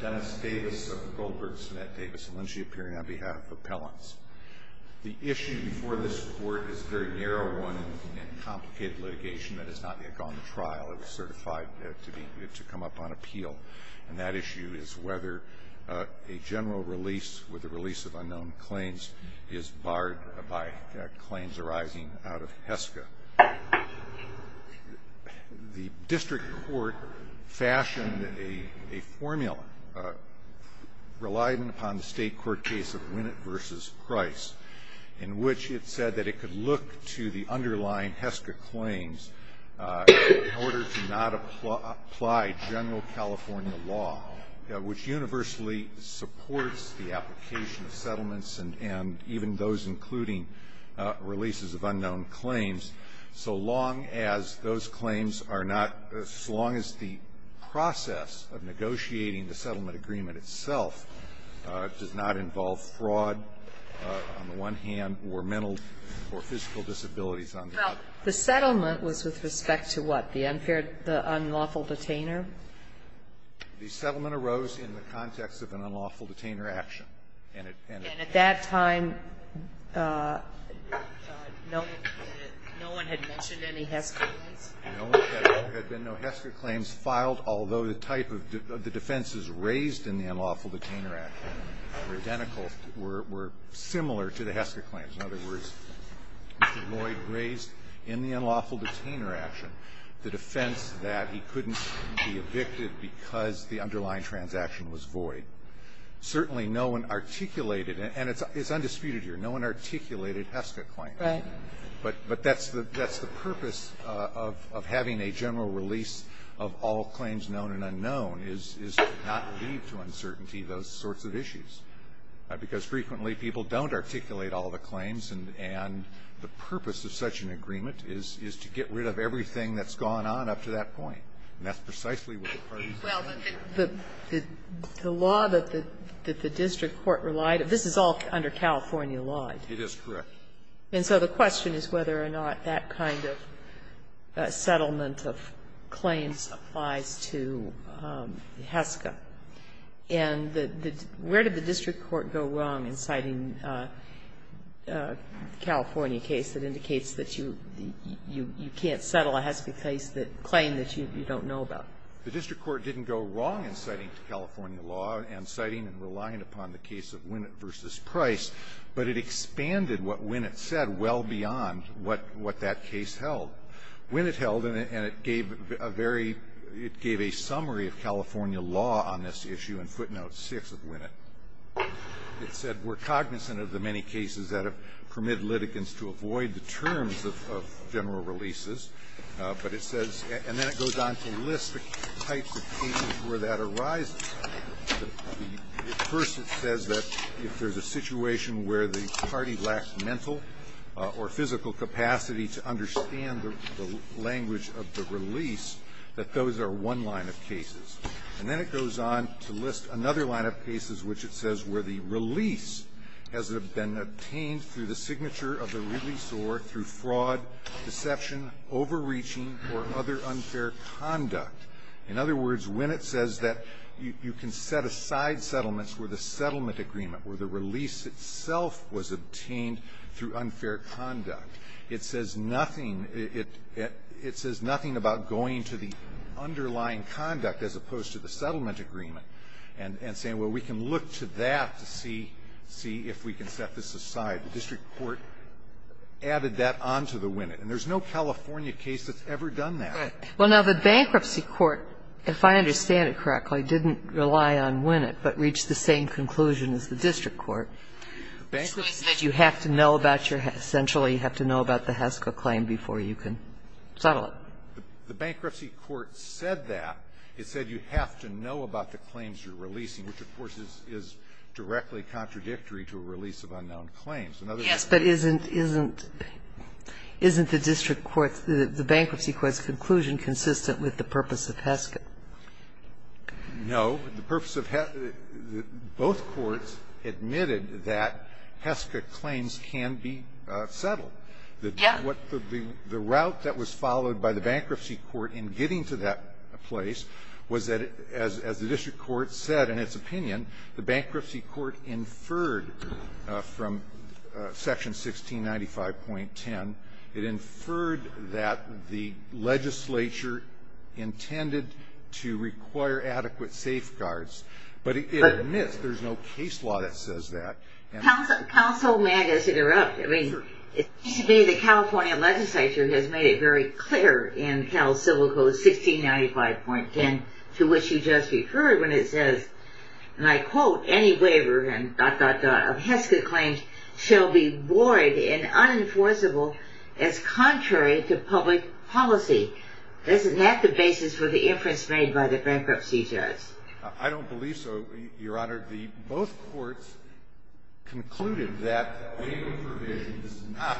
Dennis Davis of the Goldberg-Sinette Davis Allegiance appearing on behalf of Appellants. The issue before this Court is a very narrow one in complicated litigation that has not yet gone to trial. It was certified to come up on appeal. And that issue is whether a general release with the release of unknown claims is barred by claims arising out of HESCA. The District Court fashioned a formula, reliant upon the State Court case of Winnett v. Price, in which it said that it could look to the underlying HESCA claims in order to not apply general California law, which universally supports the application of settlements and even those including releases of unknown claims, so long as those claims are not as long as the process of negotiating the settlement agreement itself does not involve fraud on the one hand or mental or physical disabilities on the other. Well, the settlement was with respect to what? The unfair, the unlawful detainer? The settlement arose in the context of an unlawful detainer action. And at that time, no one had mentioned any HESCA claims? There had been no HESCA claims filed, although the type of defenses raised in the unlawful detainer action were identical, were similar to the HESCA claims. In other words, Mr. Lloyd raised in the unlawful detainer action the defense that he couldn't be evicted because the underlying transaction was void. Certainly no one articulated, and it's undisputed here, no one articulated HESCA claims. Right. But that's the purpose of having a general release of all claims known and unknown is to not lead to uncertainty, those sorts of issues. Because frequently people don't articulate all the claims, and the purpose of such an agreement is to get rid of everything that's gone on up to that point. And that's precisely what the parties are doing. Well, but the law that the district court relied upon, this is all under California law. It is correct. And so the question is whether or not that kind of settlement of claims applies to HESCA. And where did the district court go wrong in citing a California case that indicates that you can't settle a HESCA claim that you don't know about? The district court didn't go wrong in citing California law and citing and relying upon the case of Winnett v. Price, but it expanded what Winnett said well beyond what that case held. Winnett held, and it gave a very – it gave a summary of California law on this issue in footnote 6 of Winnett. It said, We're cognizant of the many cases that have permitted litigants to avoid the terms of general releases. But it says – and then it goes on to list the types of cases where that arises. First, it says that if there's a situation where the party lacks mental or physical capacity to understand the language of the release, that those are one line of cases. And then it goes on to list another line of cases which it says where the release has been obtained through the signature of the release or through fraud, deception, overreaching, or other unfair conduct. In other words, Winnett says that you can set aside settlements where the settlement agreement, where the release itself was obtained through unfair conduct. It says nothing – it says nothing about going to the underlying conduct as opposed to the settlement agreement and saying, well, we can look to that to see if we can set this aside. The district court added that on to the Winnett. And there's no California case that's ever done that. Right. Well, now, the bankruptcy court, if I understand it correctly, didn't rely on Winnett but reached the same conclusion as the district court. The bankruptcy court said you have to know about your – essentially, you have to know about the HESCO claim before you can settle it. The bankruptcy court said that. It said you have to know about the claims you're releasing, which, of course, is directly contradictory to a release of unknown claims. In other words – Yes, but isn't – isn't the district court's – the bankruptcy court's conclusion consistent with the purpose of HESCO? No. The purpose of – both courts admitted that HESCO claims can be settled. Yeah. The route that was followed by the bankruptcy court in getting to that place was that, as the district court said in its opinion, the bankruptcy court inferred from Section 1695.10, it inferred that the legislature intended to require adequate safeguards. But it admits there's no case law that says that. Counsel, may I just interrupt? I mean, it seems to me the California legislature has made it very clear in Cal Civil Code 1695.10, to which you just referred, when it says, and I quote, any waiver – and dot, dot, dot – of HESCO claims shall be void and unenforceable as contrary to public policy. Isn't that the basis for the inference made by the bankruptcy judge? I don't believe so, Your Honor. Both courts concluded that waiver provision does not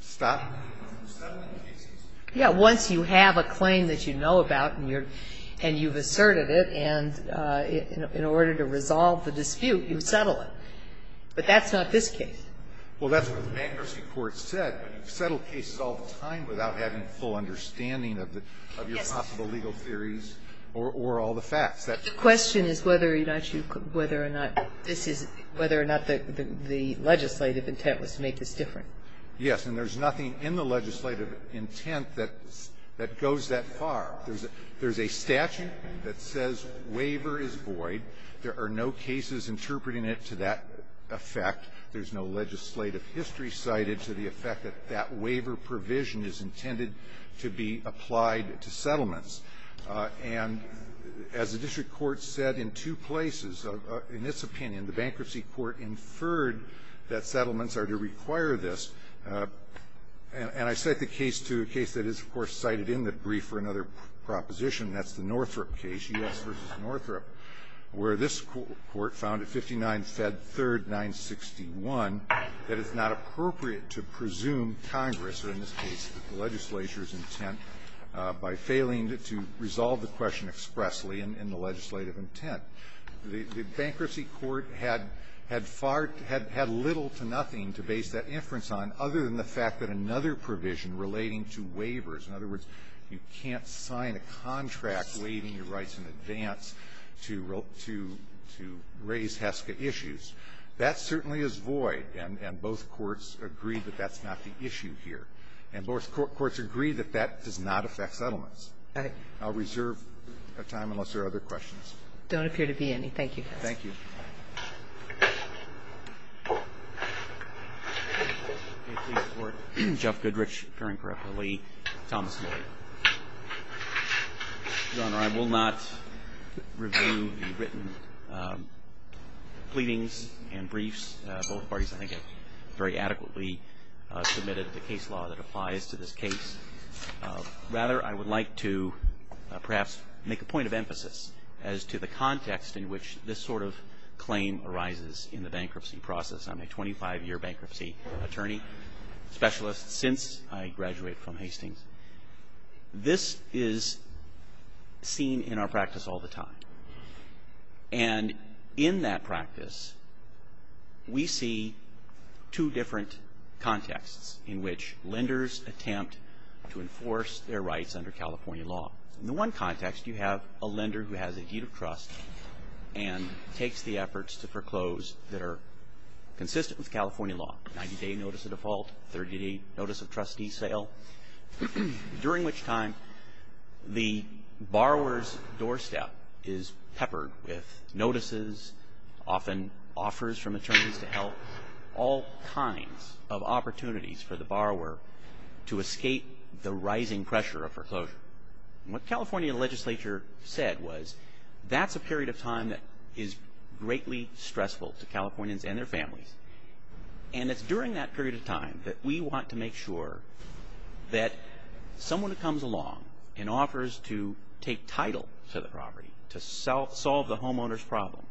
stop settlement cases. Yeah, once you have a claim that you know about and you're – and you've asserted it, and in order to resolve the dispute, you settle it. But that's not this case. Well, that's what the bankruptcy court said. You settle cases all the time without having full understanding of the – of your possible legal theories or all the facts. Yes. The question is whether or not you – whether or not this is – whether or not the legislative intent was to make this different. And there's nothing in the legislative intent that goes that far. There's a statute that says waiver is void. There are no cases interpreting it to that effect. There's no legislative history cited to the effect that that waiver provision is intended to be applied to settlements. And as the district court said in two places, in its opinion, the bankruptcy court inferred that settlements are to require this. And I cite the case to a case that is, of course, cited in the brief for another proposition, and that's the Northrop case, U.S. v. Northrop, where this Court found at 59 Fed 3rd 961 that it's not appropriate to presume Congress, or in this case the legislature's intent, by failing to resolve the question expressly in the legislative intent. The bankruptcy court had far – had little to nothing to base that inference on other than the fact that another provision relating to waivers, in other words, you can't sign a contract waiving your rights in advance to raise HESCA issues. That certainly is void, and both courts agree that that's not the issue here. And both courts agree that that does not affect settlements. I'll reserve time unless there are other questions. There don't appear to be any. Thank you, counsel. Thank you. May it please the Court, Jeff Goodrich, Karen Correpa-Lee, Thomas Moore. Your Honor, I will not review the written pleadings and briefs. Both parties, I think, have very adequately submitted the case law that applies to this case. Rather, I would like to perhaps make a point of emphasis as to the context in which this sort of claim arises in the bankruptcy process. I'm a 25-year bankruptcy attorney, specialist since I graduated from Hastings. This is seen in our practice all the time. And in that practice, we see two different contexts in which lenders attempt to enforce their rights under California law. In the one context, you have a lender who has a deed of trust and takes the efforts to foreclose that are consistent with California law, 90-day notice of default, 30-day notice of trustee sale, during which time the borrower's doorstep is peppered with notices, often offers from attorneys to help, all kinds of opportunities for the borrower to escape the rising pressure of foreclosure. What California legislature said was that's a period of time that is greatly stressful to Californians and their families. And it's during that period of time that we want to make sure that someone who comes along and offers to take title to the property, to solve the homeowner's problem,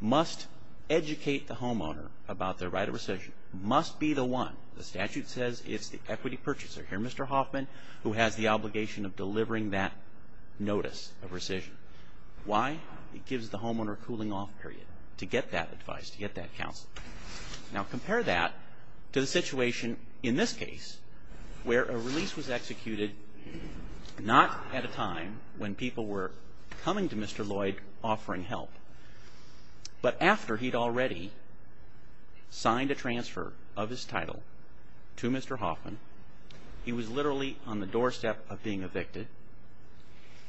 must educate the homeowner about their right of rescission, must be the one. The statute says it's the equity purchaser, here Mr. Hoffman, who has the obligation of delivering that notice of rescission. Why? It gives the homeowner a cooling-off period to get that advice, to get that counsel. Now compare that to the situation in this case where a release was executed not at a time when people were coming to Mr. Lloyd offering help, but after he'd already signed a transfer of his title to Mr. Hoffman. He was literally on the doorstep of being evicted.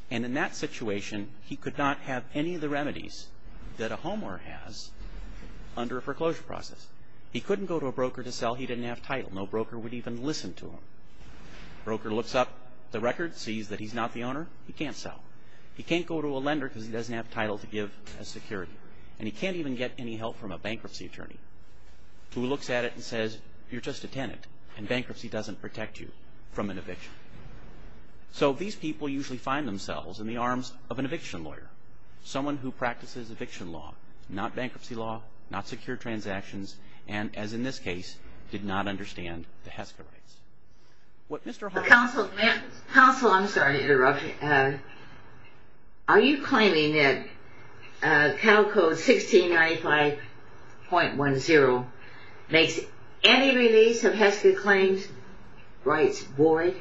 And in that situation, he could not have any of the remedies that a homeowner has under a foreclosure process. He couldn't go to a broker to sell. He didn't have title. No broker would even listen to him. Broker looks up the record, sees that he's not the owner. He can't sell. He can't go to a lender because he doesn't have title to give as security. And he can't even get any help from a bankruptcy attorney, who looks at it and says, you're just a tenant and bankruptcy doesn't protect you from an eviction. So these people usually find themselves in the arms of an eviction lawyer, someone who practices eviction law, not bankruptcy law, not secure transactions, and, as in this case, did not understand the HESCA rights. Counsel, I'm sorry to interrupt. Are you claiming that Title Code 1695.10 makes any release of HESCA claims rights void?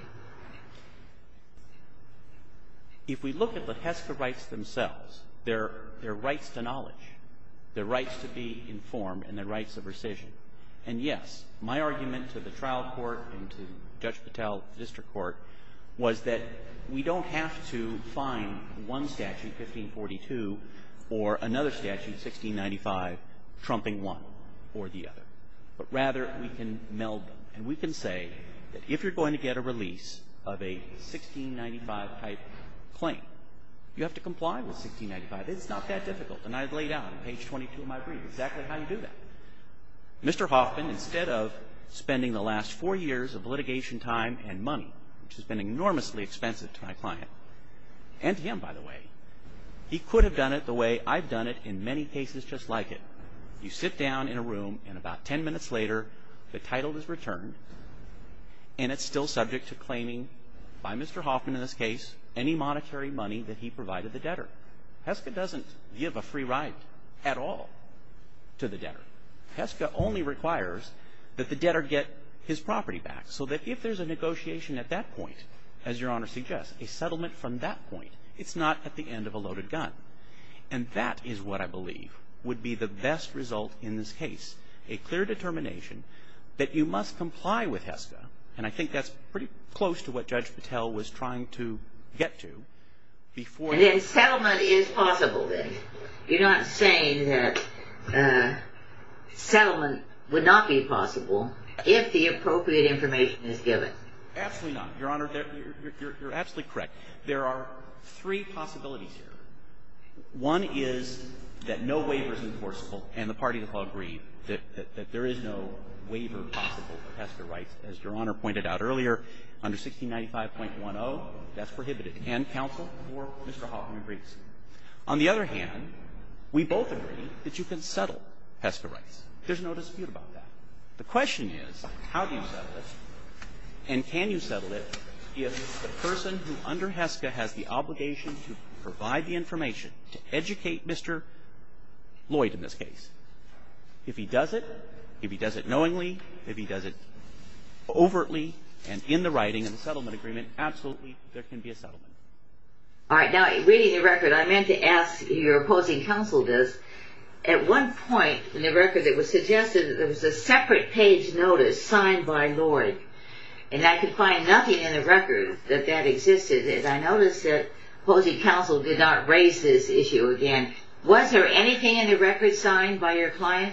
If we look at the HESCA rights themselves, their rights to knowledge, their rights to be informed, and their rights of rescission. And, yes, my argument to the trial court and to Judge Patel at the district court was that we don't have to find one statute, 1542, or another statute, 1695, trumping one or the other. But, rather, we can meld them. And we can say that if you're going to get a release of a 1695-type claim, you have to comply with 1695. It's not that difficult. And I laid out on page 22 of my brief exactly how you do that. Mr. Hoffman, instead of spending the last four years of litigation time and money, which has been enormously expensive to my client, and to him, by the way, he could have done it the way I've done it in many cases just like it. You sit down in a room, and about ten minutes later, the title is returned, and it's still subject to claiming by Mr. Hoffman, in this case, any monetary money that he provided the debtor. HESCA doesn't give a free ride at all to the debtor. HESCA only requires that the debtor get his property back, so that if there's a negotiation at that point, as Your Honor suggests, a settlement from that point, it's not at the end of a loaded gun. And that is what I believe would be the best result in this case, a clear determination that you must comply with HESCA. And I think that's pretty close to what Judge Patel was trying to get to before And then settlement is possible, then? You're not saying that settlement would not be possible if the appropriate information is given? Absolutely not, Your Honor. You're absolutely correct. There are three possibilities here. One is that no waiver is enforceable, and the parties will agree that there is no waiver possible for HESCA rights. As Your Honor pointed out earlier, under 1695.10, that's prohibited. And counsel or Mr. Hoffman agrees. On the other hand, we both agree that you can settle HESCA rights. There's no dispute about that. The question is, how do you settle it, and can you settle it, if the person who, under HESCA, has the obligation to provide the information to educate Mr. Lloyd in this case? If he does it, if he does it knowingly, if he does it overtly and in the writing of the settlement agreement, absolutely there can be a settlement. All right. Now, reading the record, I meant to ask your opposing counsel this. At one point in the record, it was suggested that there was a separate page notice signed by Lloyd, and I could find nothing in the record that that existed. And I noticed that opposing counsel did not raise this issue again. Was there anything in the record signed by your client?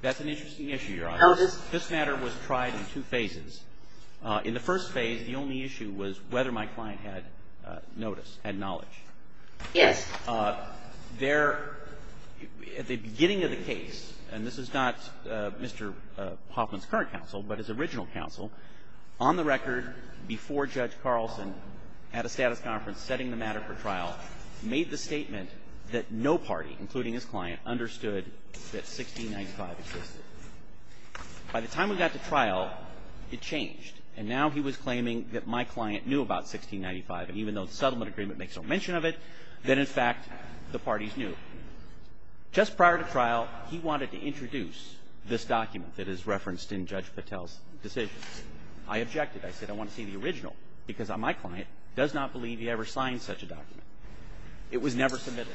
That's an interesting issue, Your Honor. This matter was tried in two phases. In the first phase, the only issue was whether my client had notice, had knowledge. Yes. There at the beginning of the case, and this is not Mr. Hoffman's current counsel, but his original counsel, on the record, before Judge Carlson had a status conference setting the matter for trial, made the statement that no party, including his client, understood that 1695 existed. By the time we got to trial, it changed, and now he was claiming that my client knew about 1695, and even though the settlement agreement makes no mention of it, that, in fact, the parties knew. Just prior to trial, he wanted to introduce this document that is referenced in Judge Patel's decision. I objected. I said, I want to see the original, because my client does not believe he ever signed It was never submitted.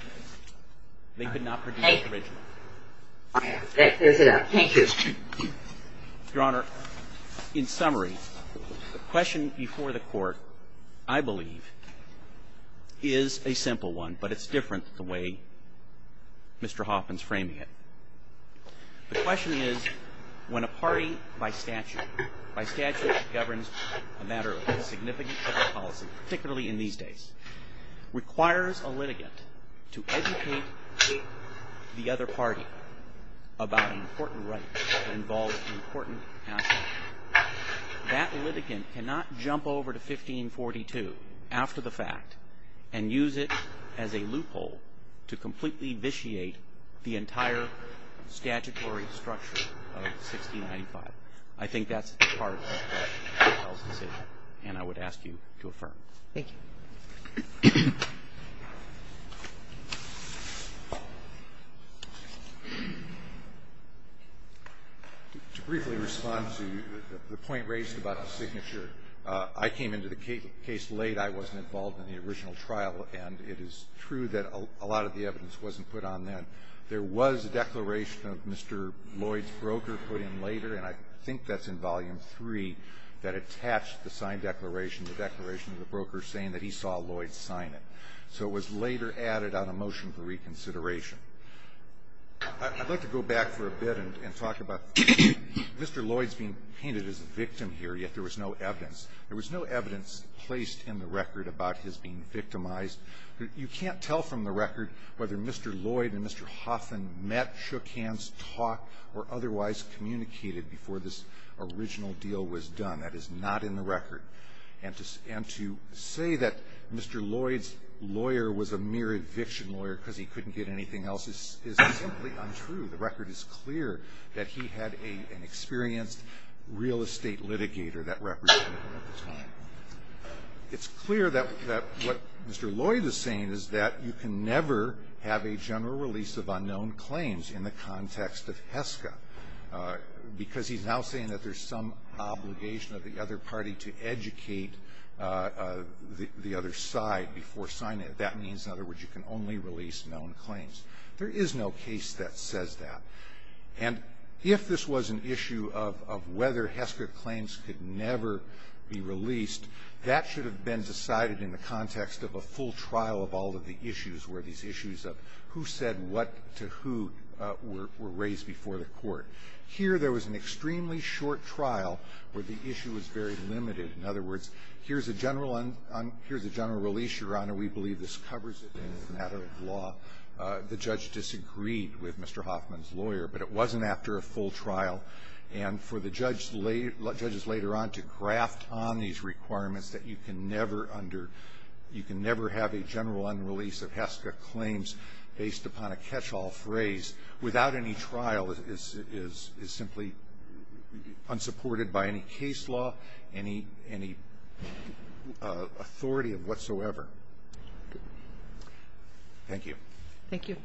They could not produce the original. Okay. That clears it up. Thank you. Your Honor, in summary, the question before the court, I believe, is a simple one, but it's different the way Mr. Hoffman's framing it. The question is, when a party by statute, by statute governs a matter of significant public policy, particularly in these days, requires a litigant to educate the other party about an important right that involves an important action, that litigant cannot jump over to 1542 after the fact and use it as a loophole to completely vitiate the entire statutory structure of 1695. I think that's part of Judge Patel's decision, and I would ask you to affirm it. Thank you. To briefly respond to the point raised about the signature, I came into the case late. I wasn't involved in the original trial, and it is true that a lot of the evidence wasn't put on then. There was a declaration of Mr. Lloyd's broker put in later, and I think that's in Volume 3, that attached the signed declaration, the declaration of the broker saying that he saw Lloyd sign it. So it was later added on a motion for reconsideration. I'd like to go back for a bit and talk about Mr. Lloyd's being painted as a victim here, yet there was no evidence. There was no evidence placed in the record about his being victimized. You can't tell from the record whether Mr. Lloyd and Mr. Hoffman met, shook hands, talked, or otherwise communicated before this original deal was done. That is not in the record. And to say that Mr. Lloyd's lawyer was a mere eviction lawyer because he couldn't get anything else is simply untrue. The record is clear that he had an experienced real estate litigator that represented him at the time. It's clear that what Mr. Lloyd is saying is that you can never have a general release of unknown claims in the context of HESCA, because he's now saying that there's some obligation of the other party to educate the other side before signing it. That means, in other words, you can only release known claims. There is no case that says that. And if this was an issue of whether HESCA claims could never be released, that should have been decided in the context of a full trial of all of the issues where these issues of who said what to who were raised before the Court. Here there was an extremely short trial where the issue was very limited. In other words, here's a general release, Your Honor, we believe this covers it in the matter of law. The judge disagreed with Mr. Hoffman's lawyer, but it wasn't after a full trial. And for the judges later on to graft on these requirements that you can never have a general unrelease of HESCA claims based upon a catch-all phrase without any trial is simply unsupported by any case law, any authority whatsoever. Thank you. Thank you.